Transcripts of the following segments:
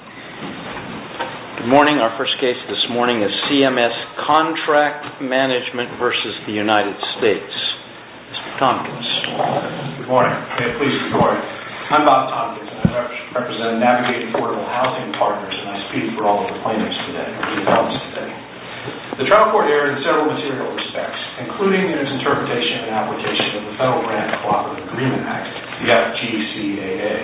Good morning. Our first case this morning is CMS CONTRACT MANAGEMENT v. United States. Mr. Tompkins. Good morning. I'm Bob Tompkins and I represent Navigate Affordable Housing Partners and I speak for all of the plaintiffs today. The trial court erred in several material respects, including in its interpretation and application of the Federal Grant Cooperative Agreement Act, the FGCAA.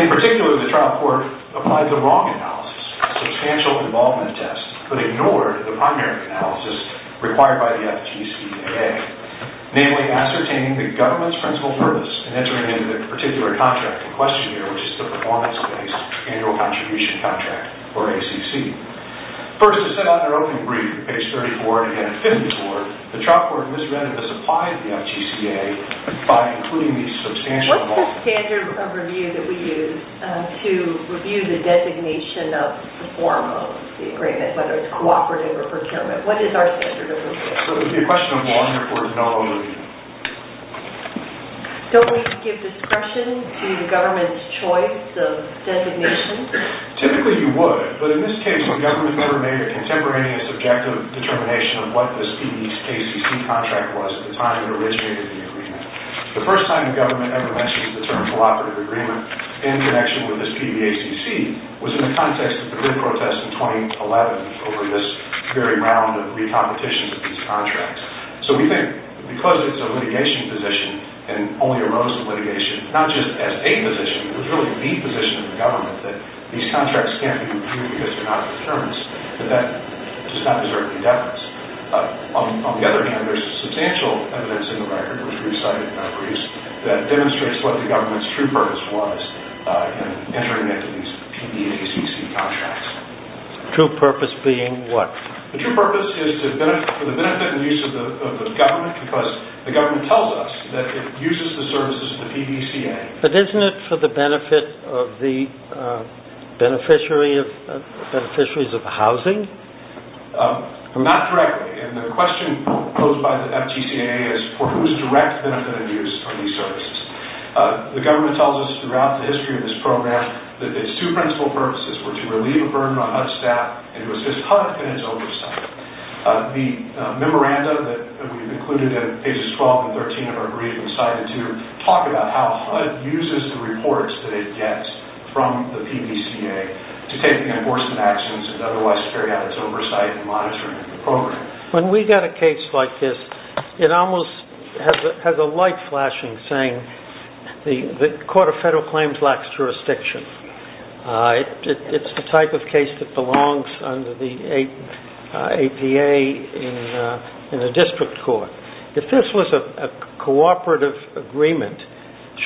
In particular, the trial court applied the wrong analysis, the Substantial Involvement Test, but ignored the primary analysis required by the FGCAA, namely ascertaining the government's principal purpose in entering into the particular contract and questionnaire, which is the Performance-Based Annual Contribution Contract, or ACC. First, as set out in our opening brief, page 34 and again 54, the trial court misread and misapplied the FGCAA by including the Substantial Involvement Test. What's the standard of review that we use to review the designation of the form of the agreement, whether it's cooperative or procurement? What is our standard of review? It would be a question of law and therefore no overview. Don't we give discretion to the government's choice of designation? Typically, you would, but in this case, the government never made a contemporaneous objective determination of what the FGCAA contract was at the time it originated the agreement. The first time the government ever mentioned the term cooperative agreement in connection with this PBACC was in the context of the grid protest in 2011 over this very round of re-competition of these contracts. So we think, because it's a litigation position and only arose in litigation, not just as a position, but it was really the position of the government, that these contracts can't be reviewed because they're not a deterrence, that that does not deserve any deference. On the other hand, there's substantial evidence in the record, which we've cited in our briefs, that demonstrates what the government's true purpose was in entering into these PBACC contracts. True purpose being what? The true purpose is for the benefit and use of the government because the government tells us that it uses the services of the PBCA. But isn't it for the benefit of the beneficiaries of housing? Not directly, and the question posed by the FGCAA is for whose direct benefit and use are these services? The government tells us throughout the history of this program that its two principal purposes were to relieve a burden on HUD staff, and it was HUD and its oversight. The memorandum that we've included in pages 12 and 13 of our briefs, we've cited to talk about how HUD uses the reports that it gets from the PBCA to take the endorsement actions and otherwise carry out its oversight and monitoring of the program. When we get a case like this, it almost has a light flashing saying the court of federal claims lacks jurisdiction. It's the type of case that belongs under the APA in a district court. If this was a cooperative agreement,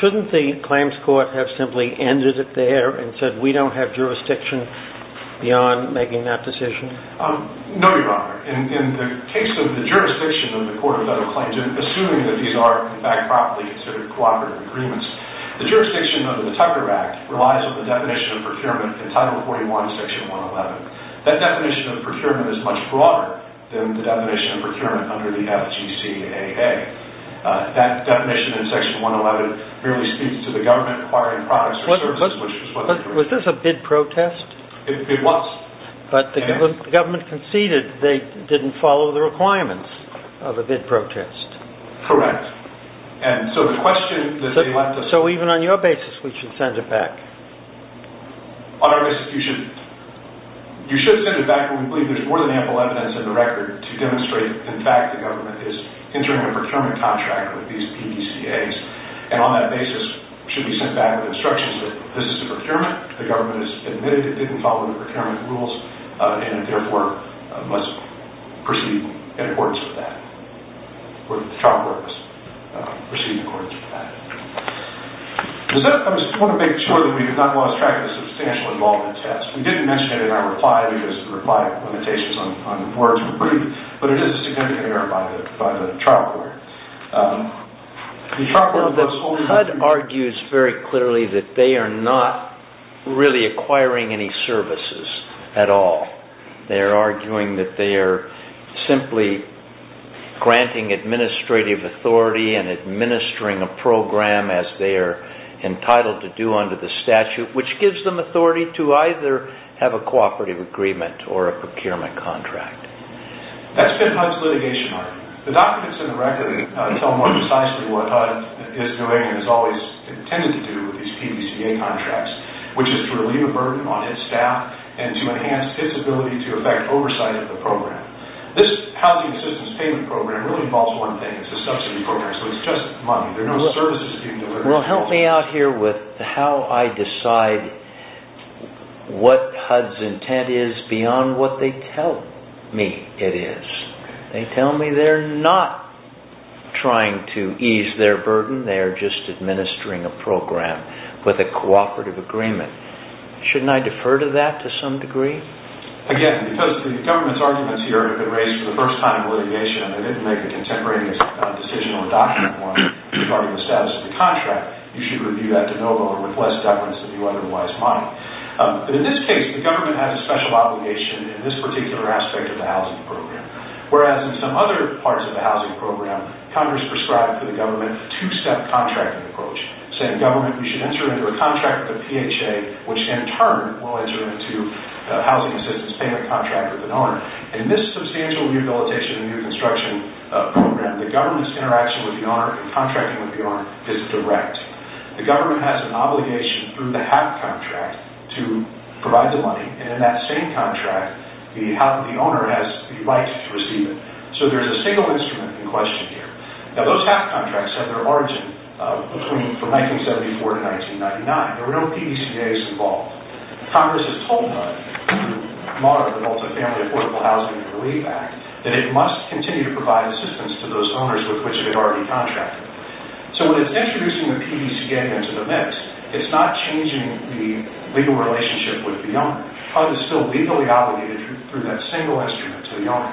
shouldn't the claims court have simply ended it there and said we don't have jurisdiction beyond making that decision? No, Your Honor. In the case of the jurisdiction of the court of federal claims, and assuming that these are, in fact, properly considered cooperative agreements, the jurisdiction under the Tucker Act relies on the definition of procurement in Title 41, Section 111. That definition of procurement is much broader than the definition of procurement under the FGCAA. That definition in Section 111 merely speaks to the government acquiring products or services, which is what the case is. Was this a bid protest? It was. But the government conceded they didn't follow the requirements of a bid protest. Correct. So even on your basis, we should send it back? On our basis, you should send it back. We believe there's more than ample evidence in the record to demonstrate, in fact, the government is entering a procurement contract with these PDCAs. And on that basis, it should be sent back with instructions that this is a procurement, the government has admitted it didn't follow the procurement rules, and therefore must proceed in accordance with that, or the trial court must proceed in accordance with that. I just want to make sure that we have not lost track of the substantial involvement test. We didn't mention it in our reply, because the reply limitations on words were brief, but it is a significant error by the trial court. The HUD argues very clearly that they are not really acquiring any services at all. They are arguing that they are simply granting administrative authority and administering a program as they are entitled to do under the statute, which gives them authority to either have a cooperative agreement or a procurement contract. That's been HUD's litigation argument. The documents in the record tell more precisely what HUD is doing and has always intended to do with these PDCA contracts, which is to relieve a burden on its staff and to enhance its ability to effect oversight of the program. This Housing Assistance Payment Program really involves one thing. It's a subsidy program, so it's just money. There are no services you can deliver. Well, help me out here with how I decide what HUD's intent is beyond what they tell me it is. They tell me they are not trying to ease their burden. They are just administering a program with a cooperative agreement. Shouldn't I defer to that to some degree? Again, because the government's arguments here have been raised for the first time in litigation, and they didn't make a contemporaneous decision or document one regarding the status of the contract, you should review that de novo or request deference if you otherwise mind. In this case, the government has a special obligation in this particular aspect of the housing program, whereas in some other parts of the housing program Congress prescribed to the government a two-step contracting approach, saying government, you should enter into a contract with PHA, which in turn will enter into a housing assistance payment contract with an owner. In this substantial rehabilitation and reconstruction program, the government's interaction with the owner and contracting with the owner is direct. The government has an obligation through the HAC contract to provide the money, and in that same contract, the owner has the right to receive it. So there is a single instrument in question here. Now, those HAC contracts have their origin from 1974 to 1999. There were no PDCJs involved. Congress has told HUD, through the Moderate and Multifamily Affordable Housing and Relief Act, that it must continue to provide assistance to those owners with which it had already contracted. So when it's introducing the PDCJ into the mix, it's not changing the legal relationship with the owner. HUD is still legally obligated through that single instrument to the owner.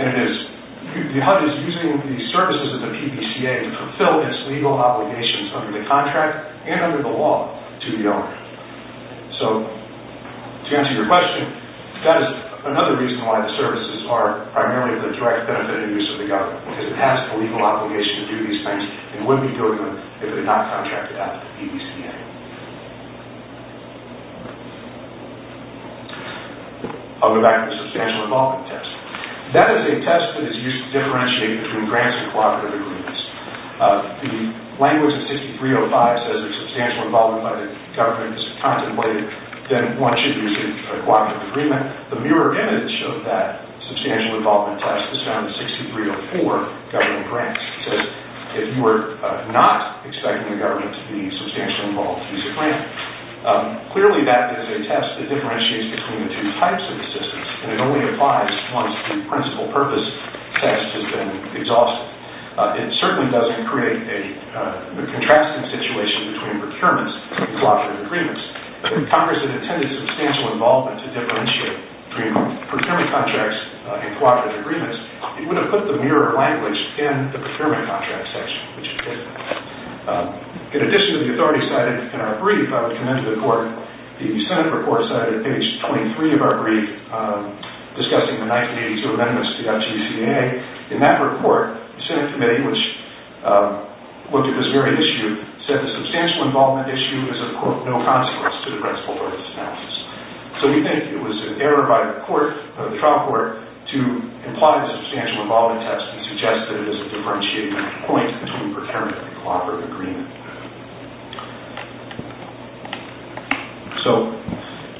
And HUD is using the services of the PDCA to fulfill its legal obligations under the contract and under the law to the owner. So, to answer your question, that is another reason why the services are primarily of the direct benefit and use of the government, because it has a legal obligation to do these things, and wouldn't be doing them if it had not contracted out to the PDCA. I'll go back to the substantial involvement test. That is a test that is used to differentiate between grants and cooperative agreements. The language of 6305 says if substantial involvement by the government is contemplated, then one should use it for a cooperative agreement. The mirror image of that substantial involvement test is found in 6304 government grants. It says if you are not expecting the government to be substantially involved, use a grant. Clearly, that is a test that differentiates between the two types of assistance, and it only applies once the principal purpose test has been exhausted. It certainly doesn't create a contrasting situation between procurements and cooperative agreements. If Congress had intended substantial involvement to differentiate between procurement contracts and cooperative agreements, it would have put the mirror language in the procurement contract section, which it didn't. In addition to the authority cited in our brief, I would commend to the Court, the Senate report cited at page 23 of our brief discussing the 1982 amendments to the FGCAA. In that report, the Senate committee, which looked at this very issue, said the substantial involvement issue is of no consequence to the principal purpose analysis. We think it was an error by the trial court to imply a substantial involvement test and suggest that it is a differentiating point between procurement and cooperative agreements.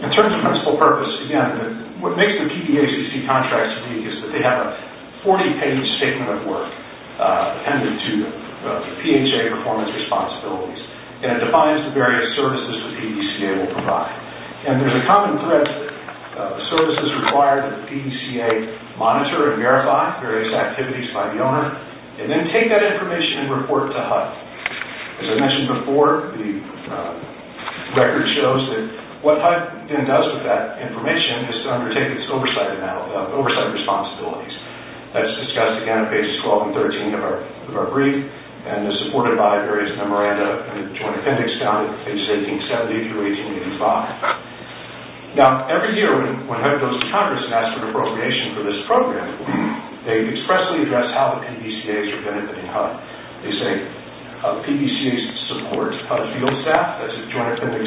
In terms of principal purpose, what makes the PDACC contracts unique is that they have a 40-page statement of work that is tended to PHA performance responsibilities, and it defines the various services the PDACC will provide. There is a common thread of services required that the PDACC monitor and verify various activities by the owner, and then take that information and report to HUD. As I mentioned before, the record shows that what HUD then does with that information is to undertake its oversight responsibilities. That is discussed again at pages 12 and 13 of our brief, and is supported by various memoranda in the Joint Appendix, down at pages 1870-1885. Now, every year when HUD goes to Congress and asks for appropriation for this program, they expressly address how the PDCAs are benefiting HUD. They say the PDCAs support HUD field staff, that's the Joint Appendix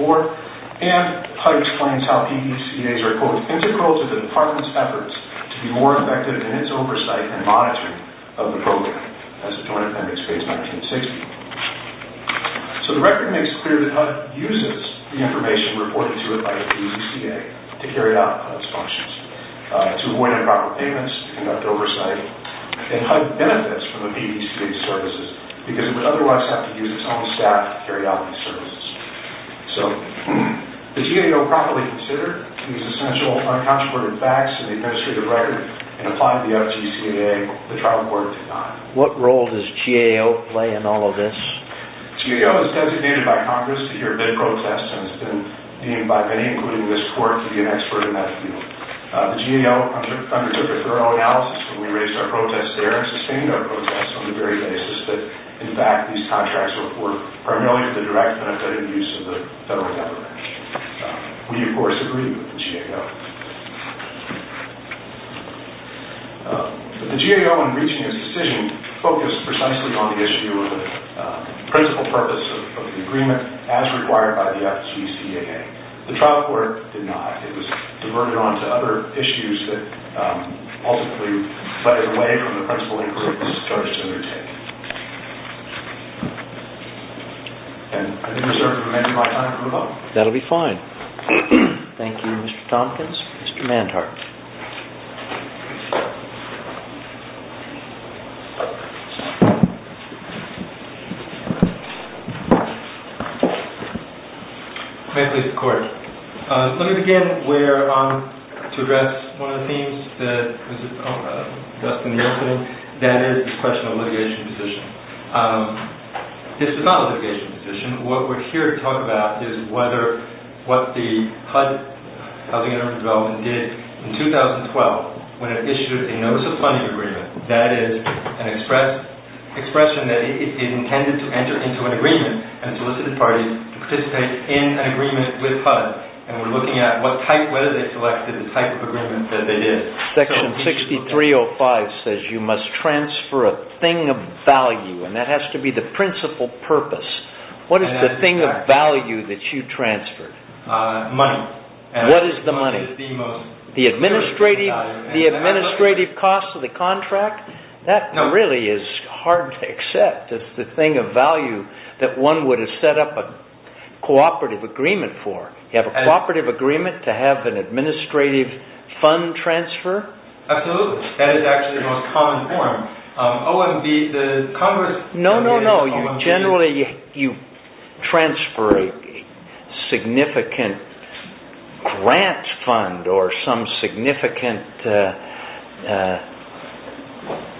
1964, and HUD explains how PDCAs are, quote, integral to the Department's efforts to be more effective in its oversight and monitoring of the program, as the Joint Appendix states, 1960. So the record makes clear that HUD uses the information reported to it by the PDCA to carry out HUD's functions, to avoid improper payments, to conduct oversight, and HUD benefits from the PDCA's services, because it would otherwise have to use its own staff to carry out these services. So, does GAO properly consider these essential, uncontroverted facts in the administrative record, and apply to the FGCAA? The trial court did not. What role does GAO play in all of this? GAO is designated by Congress to hear bid protests, and has been deemed by many, including this Court, to be an expert in that field. The GAO undertook a thorough analysis, and we raised our protests there, and sustained our protests on the very basis that, in fact, these contracts were primarily for the direct benefit and use of the federal government. We, of course, agree with the GAO. But the GAO, in reaching its decision, focused precisely on the issue of the principal purpose of the agreement, as required by the FGCAA. The trial court did not. It was diverted on to other issues that, ultimately, we decided away from the principal agreement, and started to undertake. And I think we're certainly ready for my time to move on. That'll be fine. Thank you, Mr. Tompkins. Mr. Manhart. May I please record? Let me begin to address one of the themes that was discussed in the opening. That is the question of litigation position. This is not a litigation position. What we're here to talk about is what the HUD, Housing and Urban Development, did in 2012 when it issued a Notice of Funding Agreement. That is an expression that it intended to enter into an agreement, and solicited parties to participate in an agreement with HUD. And we're looking at what type, whether they selected the type of agreement that they did. Section 6305 says you must transfer a thing of value. And that has to be the principal purpose. What is the thing of value that you transferred? Money. What is the money? The administrative cost of the contract? That really is hard to accept. It's the thing of value that one would have set up a cooperative agreement for. You have a cooperative agreement to have an administrative fund transfer? Absolutely. That is actually the most common form. OMB, the Congress... No, no, no. You transfer a significant grant fund or some significant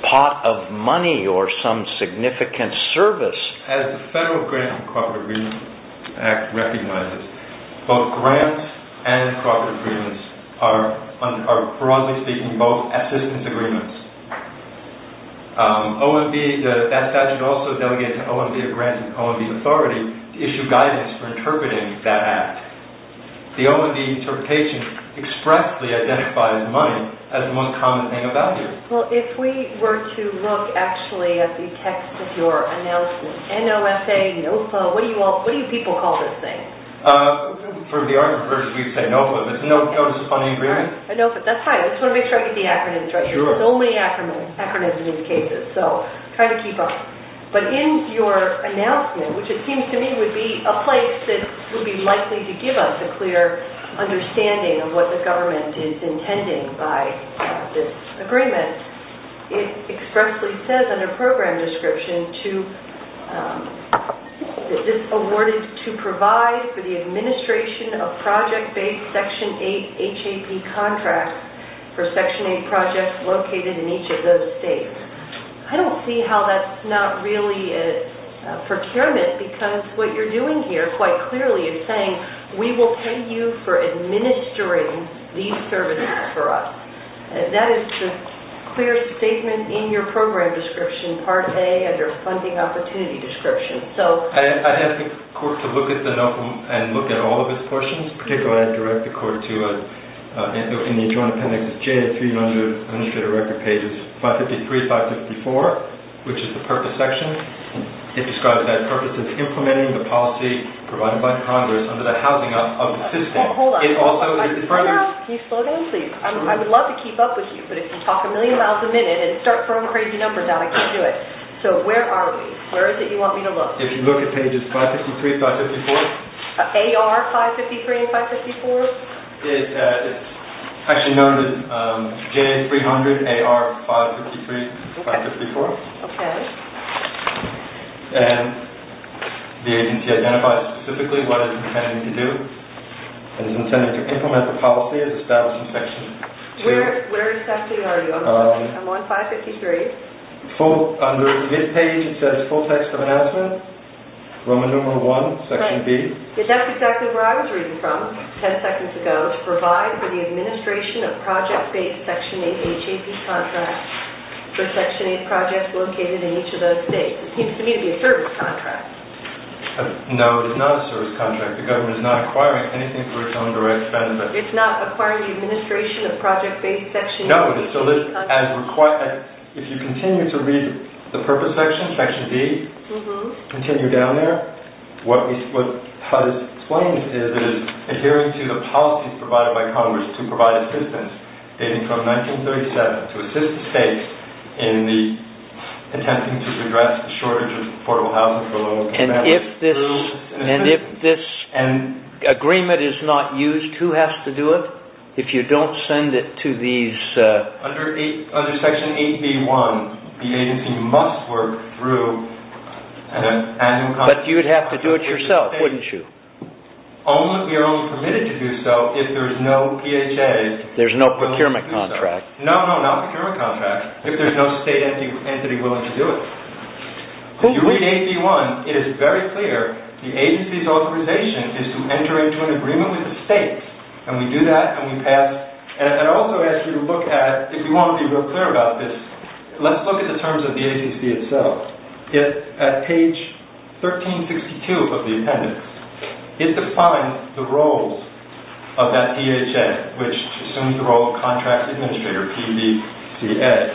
pot of money or some significant service. As the Federal Grants and Cooperative Agreements Act recognizes, both grants and cooperative agreements are, broadly speaking, both assistance agreements. OMB, that statute also delegated to OMB to grant OMB authority to issue guidance for interpreting that act. The OMB interpretation expressly identifies money as the most common thing of value. Well, if we were to look, actually, at the text of your announcement, NOSA, NOFA, what do you people call this thing? For the argument purposes, we say NOFA, but it's a Notice of Funding Agreement. I know, but that's fine. I just want to make sure I get the acronyms right. There's only acronyms in these cases, so try to keep up. But in your announcement, which it seems to me would be a place that would be likely to give us a clear understanding of what the government is intending by this agreement, it expressly says under Program Description, that this award is to provide for the administration of project-based Section 8 HAP contracts for Section 8 projects located in each of those states. I don't see how that's not really procurement, because what you're doing here, quite clearly, is saying we will pay you for administering these services for us. That is the clear statement in your Program Description, Part A, under Funding Opportunity Description. I'd ask the Court to look at the NOFA and look at all of its portions. Particularly, I'd direct the Court to look in the Joint Appendix J300, Administrative Record Pages 553-554, which is the Purpose Section. It describes that purpose as implementing the policy provided by Congress under the housing of the system. Can you slow down, please? I would love to keep up with you, but if you talk a million miles a minute and start throwing crazy numbers out, I can't do it. So, where are we? Where is it you want me to look? If you look at pages 553-554. AR 553 and 554? It's actually noted J300 AR 553-554. Okay. And the agency identifies specifically what it is intending to do. It is intending to implement the policy as established in Section 2. Where exactly are you? I'm on 553. Under this page, it says Full Text of Announcement, Roman Number 1, Section B. That's exactly where I was reading from ten seconds ago. To provide for the administration of project-based Section 8 HAP contracts for Section 8 projects located in each of those states. It seems to me to be a service contract. No, it is not a service contract. The government is not acquiring anything for its own direct benefit. It's not acquiring the administration of project-based Section 8 contracts? No. If you continue to read the Purpose Section, Section B, continue down there, what it explains is it is adhering to the policies provided by Congress to provide assistance dating from 1937 to assist the states in attempting to address the shortage of affordable housing for low income families. And if this agreement is not used, who has to do it? If you don't send it to these... Under Section 8B.1, the agency must work through... But you would have to do it yourself, wouldn't you? We are only permitted to do so if there is no PHA... There is no procurement contract. No, not procurement contract. If there is no state entity willing to do it. If you read 8B.1, it is very clear the agency's authorization is to enter into an agreement with the states. And we do that and we pass... And I also ask you to look at, if you want to be real clear about this, let's look at the terms of the agency itself. At page 1362 of the appendix, it defines the roles of that PHA, which assumes the role of contract administrator, PBCS.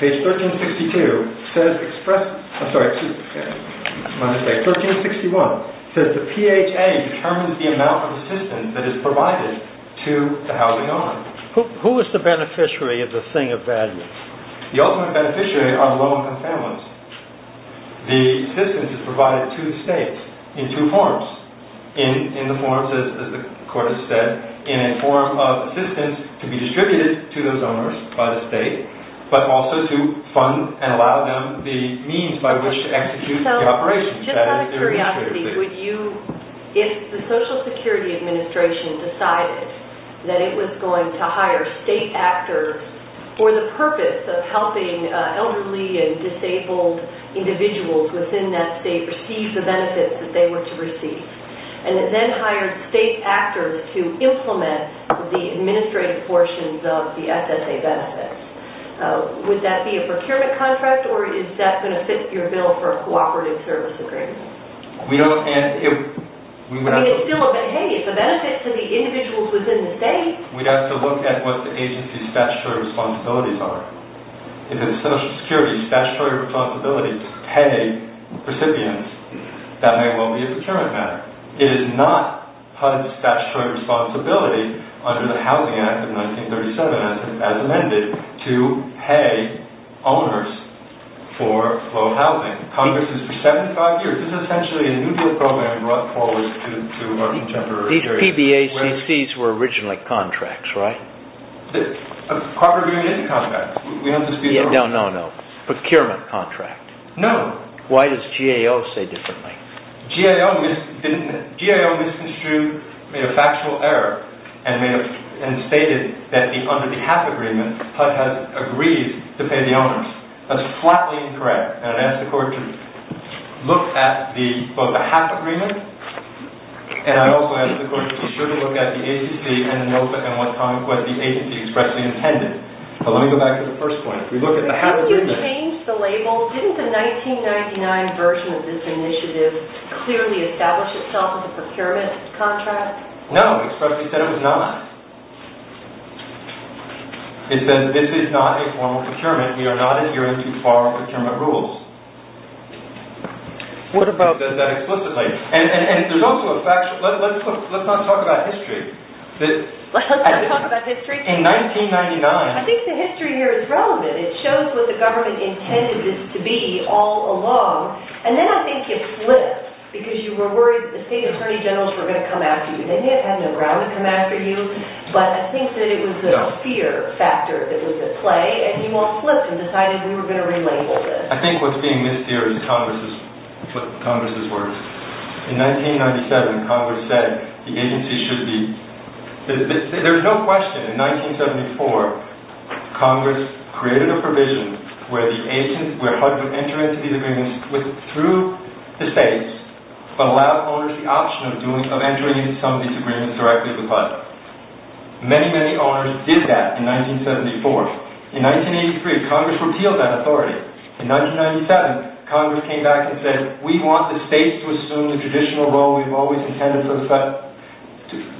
Page 1362 says express... I'm sorry, excuse me. My mistake. 1361 says the PHA determines the amount of assistance that is provided to the housing owner. Who is the beneficiary of the thing of value? The ultimate beneficiary are low income families. The assistance is provided to the states in two forms. In the forms, as the court has said, in a form of assistance to be distributed to those owners by the state, but also to fund and allow them the means by which to execute the operation. So, just out of curiosity, would you... If the Social Security Administration decided that it was going to hire state actors for the purpose of helping elderly and disabled individuals within that state receive the benefits that they were to receive, and then hired state actors to implement the administrative portions of the SSA benefits, would that be a procurement contract or is that going to fit your bill for a cooperative service agreement? We don't... I mean, it's still a benefit. Hey, it's a benefit to the individuals within the state. We'd have to look at what the agency's statutory responsibilities are. If the Social Security's statutory responsibility is to pay recipients, that may well be a procurement matter. It is not part of the statutory responsibility under the Housing Act of 1937, as amended, to pay owners for low housing. Congress has for 75 years... This is essentially a new bill program brought forward to our contemporary... PBACC's were originally contracts, right? Corporate union contracts. No, no, no. Procurement contract. No. Why does GAO say differently? GAO misconstrued a factual error and stated that under the half agreement HUD has agreed to pay the owners. That's flatly incorrect. And I ask the court to look at both the half agreement and I also ask the court to be sure to look at the agency and note what the agency expressly intended. But let me go back to the first point. If we look at the half agreement... Didn't you change the label? Didn't the 1999 version of this initiative clearly establish itself as a procurement contract? No. It expressly said it was not. It says this is not a formal procurement. We are not adhering to formal procurement rules. What about... It says that explicitly. And there's also a fact... Let's not talk about history. Let's not talk about history? In 1999... I think the history here is relevant. It shows what the government intended this to be all along. And then I think it flips because you were worried the state attorney generals were going to come after you. They had no ground to come after you. But I think that it was the fear factor that was at play and you all flipped and decided we were going to relabel this. I think what's being missed here is Congress's words. In 1997, Congress said the agency should be... There's no question. In 1974, Congress created a provision where HUD would enter into these agreements through the states but allow owners the option of entering into some of these agreements directly with HUD. Many, many owners did that in 1974. In 1983, Congress repealed that authority. In 1997, Congress came back and said we want the states to assume the traditional role we've always intended for the states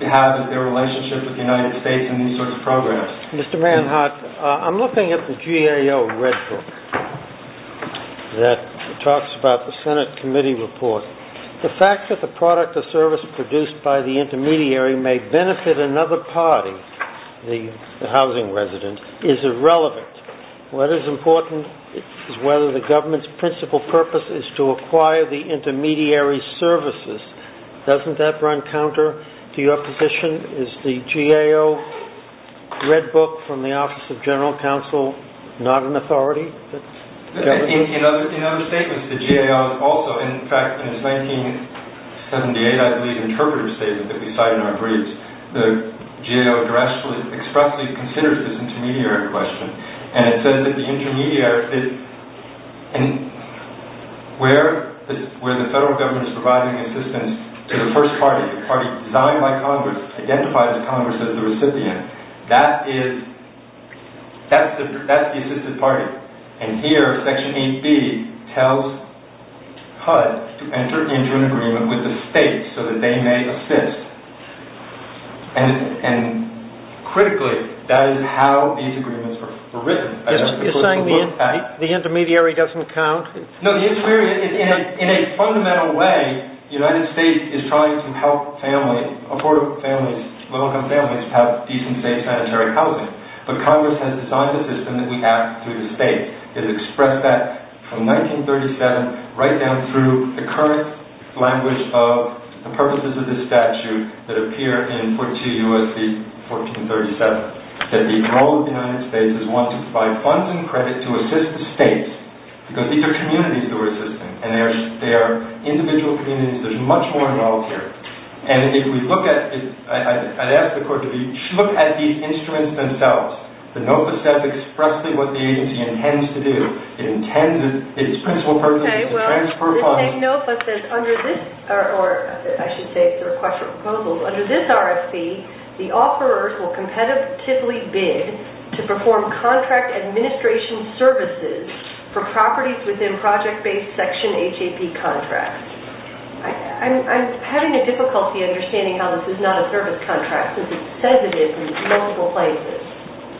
to have in their relationship with the United States in these sorts of programs. Mr. Manhart, I'm looking at the GAO Red Book that talks about the Senate Committee Report. The fact that the product or service produced by the intermediary may benefit another party, the housing resident, is irrelevant. What is important is whether the government's principal purpose is to acquire the intermediary services. Doesn't that run counter to your position? Is the GAO Red Book from the Office of General Counsel not an authority? In other statements, the GAO also... In fact, in its 1978, I believe, interpretive statement that we cited in our briefs, the GAO expressly considers this intermediary question. And it says that the intermediary... Where the federal government is providing assistance to the first party, the party designed by Congress, identified by Congress as the recipient, that's the assisted party. And here, Section 8B tells HUD to enter into an agreement with the states so that they may assist. And critically, that is how these agreements were written. You're saying the intermediary doesn't count? No, the intermediary, in a fundamental way, the United States is trying to help families, affordable families, low-income families have decent, safe sanitary housing. But Congress has designed a system that we act through the states. It expressed that from 1937 right down through the current language of the purposes of this statute that appear in 42 U.S.C. 1437, that the role of the United States is one to provide funds and credit to assist the states. Because these are communities who are assisting. And they are individual communities. There's much more involved here. And if we look at... I'd ask the Court to look at these instruments themselves. The NOFA says expressly what the agency intends to do. It intends its principal purpose is to transfer funds... The NOFA says under this, or I should say the request for proposal, under this RFP, the offerors will competitively bid to perform contract administration services for properties within project-based Section HAP contracts. I'm having a difficulty understanding how this is not a service contract, because it says it is in multiple places.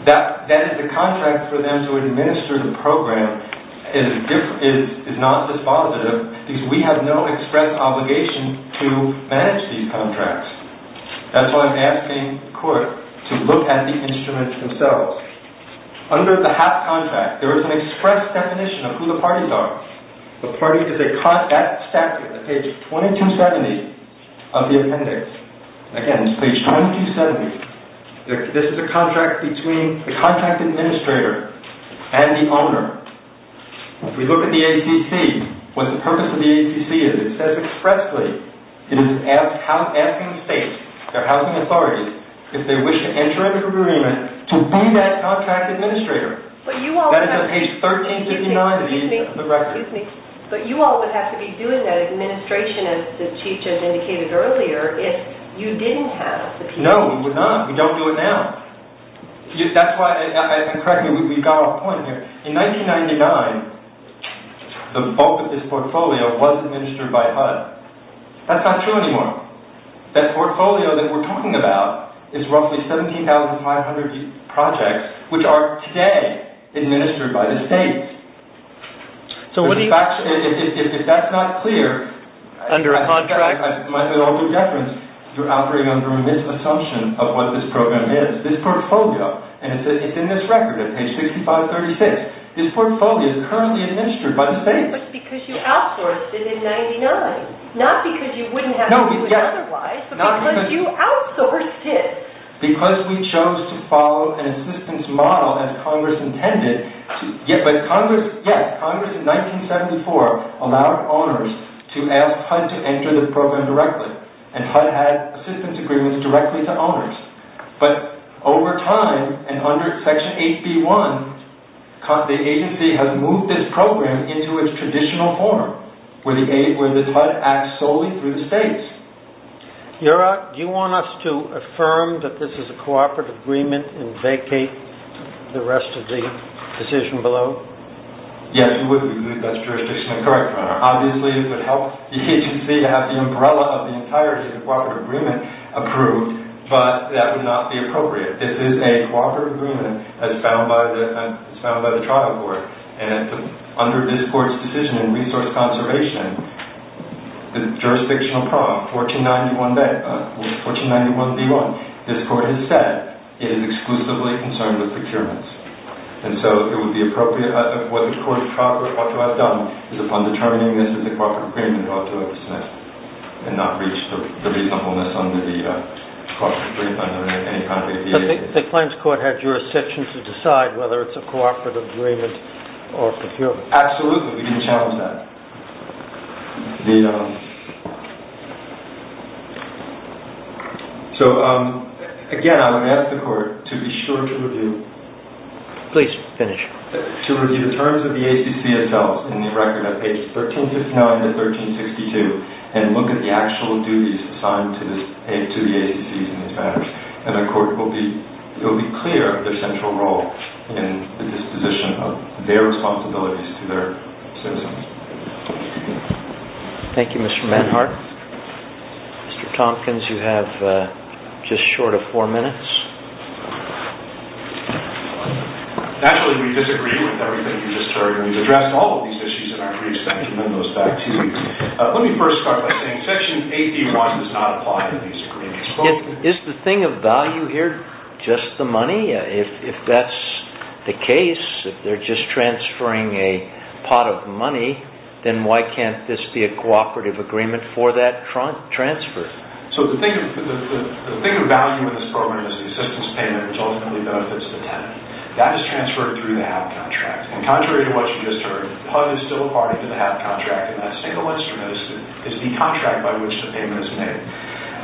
That is, the contract for them to administer the program is non-dispositive because we have no express obligation to manage these contracts. That's why I'm asking the Court to look at the instruments themselves. Under the HAP contract, there is an express definition of who the parties are. The party is a contract... That's statute at page 2270 of the appendix. Again, it's page 2270. This is a contract between the contract administrator and the owner. If we look at the ACC, what the purpose of the ACC is, it says expressly it is asking states, their housing authorities, if they wish to enter into an agreement to be that contract administrator. That is on page 1359 of the record. But you all would have to be doing that administration, as the Chief has indicated earlier, if you didn't have the contract administrator. No, we would not. We don't do it now. That's why, and correct me, we've got off point here. In 1999, the bulk of this portfolio was administered by HUD. That's not true anymore. That portfolio that we're talking about is roughly 17,500 projects, which are today administered by the states. If that's not clear... Under a contract... You're operating under a misassumption of what this program is. This portfolio, and it's in this record at page 6536, this portfolio is currently administered by the states. But it's because you outsourced it in 1999. Not because you wouldn't have to do it otherwise, but because you outsourced it. Because we chose to follow an assistance model as Congress intended. Yes, Congress in 1974 allowed owners to ask HUD to enter the program directly, and HUD had assistance agreements directly to owners. But over time, and under Section 8B.1, the agency has moved this program into its traditional form, where HUD acts solely through the states. Your Honor, do you want us to affirm that this is a cooperative agreement and vacate the rest of the decision below? Yes, we would. That's jurisdictionally correct, Your Honor. Obviously, it would help the agency to have the umbrella of the entirety of the cooperative agreement approved, but that would not be appropriate. This is a cooperative agreement as found by the trial court, and under this court's decision in resource conservation, the jurisdictional problem, 1491b1, this court has said it is exclusively concerned with procurements. And so, it would be appropriate, what the court ought to have done is upon determining this is a cooperative agreement ought to have dismissed and not reach the reasonableness under the cooperative agreement under any kind of aviation. But the claims court had jurisdiction to decide whether it's a cooperative agreement or procurement. Absolutely. We didn't challenge that. The... So, again, I would ask the court to be sure to review... Please, finish. To review the terms of the ACC itself in the record of pages 1359 to 1362 and look at the actual duties assigned to the ACC in these matters. And the court will be clear of their central role in the disposition of their responsibilities to their citizens. Thank you, Mr. Menhart. Mr. Tompkins, you have just short of four minutes. Naturally, we disagree with everything you just heard, and we've addressed all of these issues that are pretty extensive, and then those back to you. Let me first start by saying section 81 does not apply to these agreements. Is the thing of value here just the money? If that's the case, if they're just transferring a pot of money, then why can't this be a cooperative agreement for that transfer? So, the thing of value in this program is the assistance payment, which ultimately benefits the tenant. That is transferred through the HAP contract. And contrary to what you just heard, PUD is still a party to the HAP contract, and that single instrument is the contract by which the payment is made.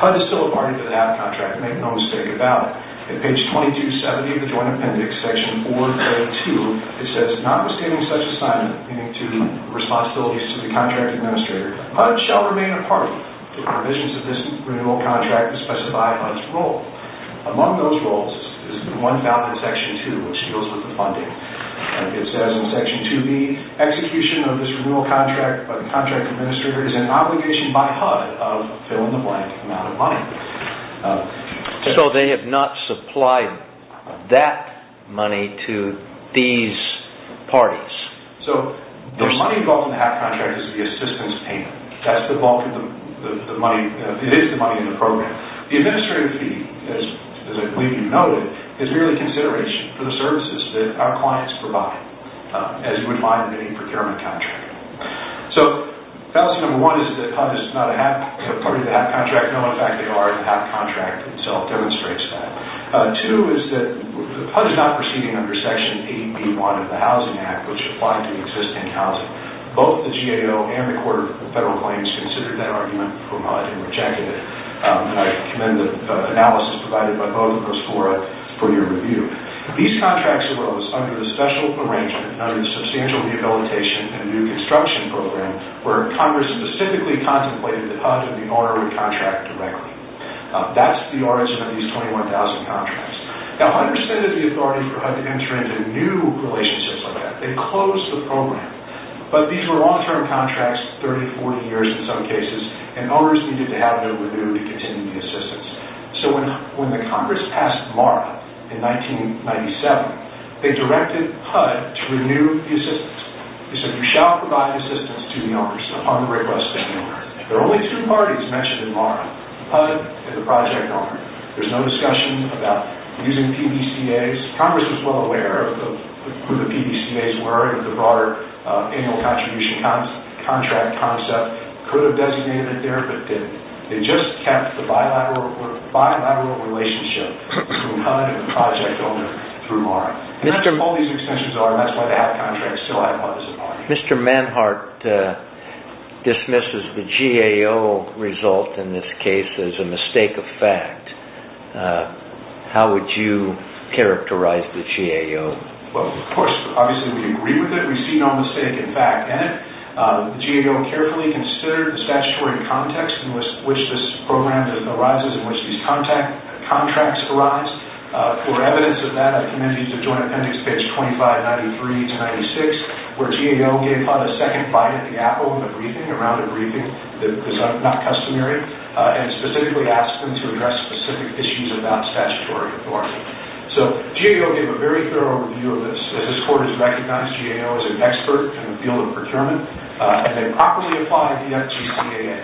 PUD is still a party to the HAP contract, make no mistake about it. At page 2270 of the Joint Appendix, section 4, grade 2, it says, notwithstanding such assignment, meaning to responsibilities to the contract administrator, PUD shall remain a party to the provisions of this renewal contract to specify PUD's role. Among those roles is the one found in section 2, which deals with the funding. It says in section 2B, execution of this renewal contract by the contract administrator is an obligation by PUD of fill-in-the-blank amount of money. So, they have not supplied that money to these parties. So, the money involved in the HAP contract is the assistance payment. That's the bulk of the money. It is the money in the program. The administrative fee, as I believe you noted, is merely consideration for the services that our clients provide, as you would find in any procurement contract. So, fallacy number one is that PUD is not a party to the HAP contract. In fact, they are. The HAP contract itself demonstrates that. Two is that PUD is not proceeding under section 8B1 of the Housing Act, which applies to existing housing. Both the GAO and the Court of Federal Claims considered that argument for PUD and rejected it. I commend the analysis provided by both of those for your review. These contracts arose under a special arrangement, under the substantial rehabilitation and new construction program, where Congress specifically contemplated that PUD and the owner would contract directly. That's the origin of these 21,000 contracts. Now, PUD rescinded the authority for PUD to enter into new relationships like that. They closed the program. But these were long-term contracts, 30, 40 years in some cases, and owners needed to have them renewed to continue the assistance. So, when the Congress passed MARA in 1997, they directed PUD to renew the assistance. They said, you shall provide assistance to the owners upon the request of MARA. There are only two parties mentioned in MARA, PUD and the project owner. There's no discussion about using PBCAs. Congress was well aware of who the PBCAs were and the broader annual contribution contract concept. Could have designated it there, but didn't. They just kept the bilateral relationship between PUD and the project owner through MARA. That's all these extensions are, and that's why they have contracts. Mr. Manhart dismisses the GAO result in this case as a mistake of fact. How would you characterize the GAO? Well, of course, obviously we agree with it. We see no mistake in fact in it. The GAO carefully considered the statutory context in which this program arises, in which these contracts arise. For evidence of that, I commend you to Joint Appendix page 2593 to 96, where GAO gave PUD a second bite at the apple in the briefing, around a briefing, that was not customary, and specifically asked them to address specific issues about statutory authority. So, GAO gave a very thorough review of this. This court has recognized GAO as an expert in the field of procurement, and they properly applied the FGCAA.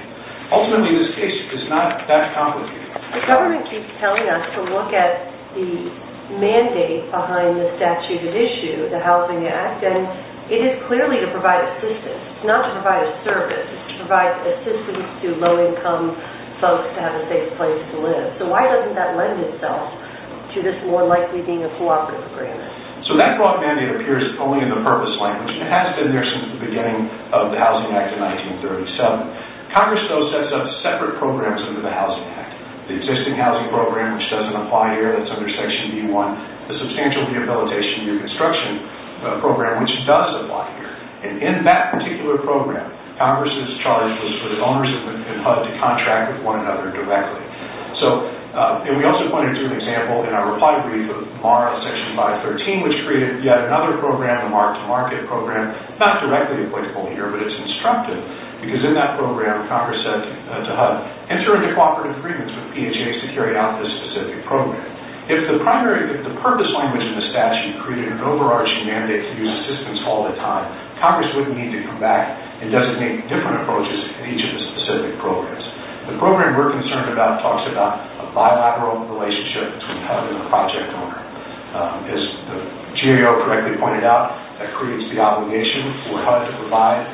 Ultimately, this case is not that complicated. The government keeps telling us to look at the mandate behind the statute at issue, the Housing Act, and it is clearly to provide assistance. It's not to provide a service. It's to provide assistance to low-income folks to have a safe place to live. So, why doesn't that lend itself to this more likely being a cooperative agreement? So, that cooperative mandate appears only in the purpose language, and it has been there since the beginning of the Housing Act of 1937. Congress, though, sets up separate programs under the Housing Act. The existing housing program, which doesn't apply here, that's under Section E1. The Substantial Rehabilitation and Reconstruction program, which does apply here. And in that particular program, Congress's charge was for the owners of the PUD to contract with one another directly. So, and we also pointed to an example in our reply brief of MARA Section 513, which created yet another program, a mark-to-market program, not directly applicable here, but it's instructive because in that program, Congress said to HUD, enter into cooperative agreements with PHAs to carry out this specific program. If the purpose language in the statute created an overarching mandate to use assistance all the time, Congress wouldn't need to come back and designate different approaches in each of the specific programs. The program we're concerned about talks about a bilateral relationship between HUD and the project owner. As the GAO correctly pointed out, that creates the obligation for HUD to provide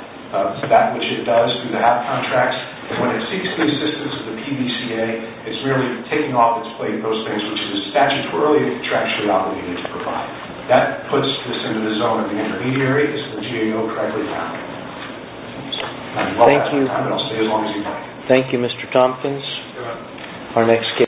that which it does through the HAP contracts. And when it seeks the assistance of the PDCA, it's really taking off its plate those things which it was statutorily and contractually obligated to provide. That puts this into the zone of the intermediary, as the GAO correctly pointed out. Thank you, Mr. Tompkins.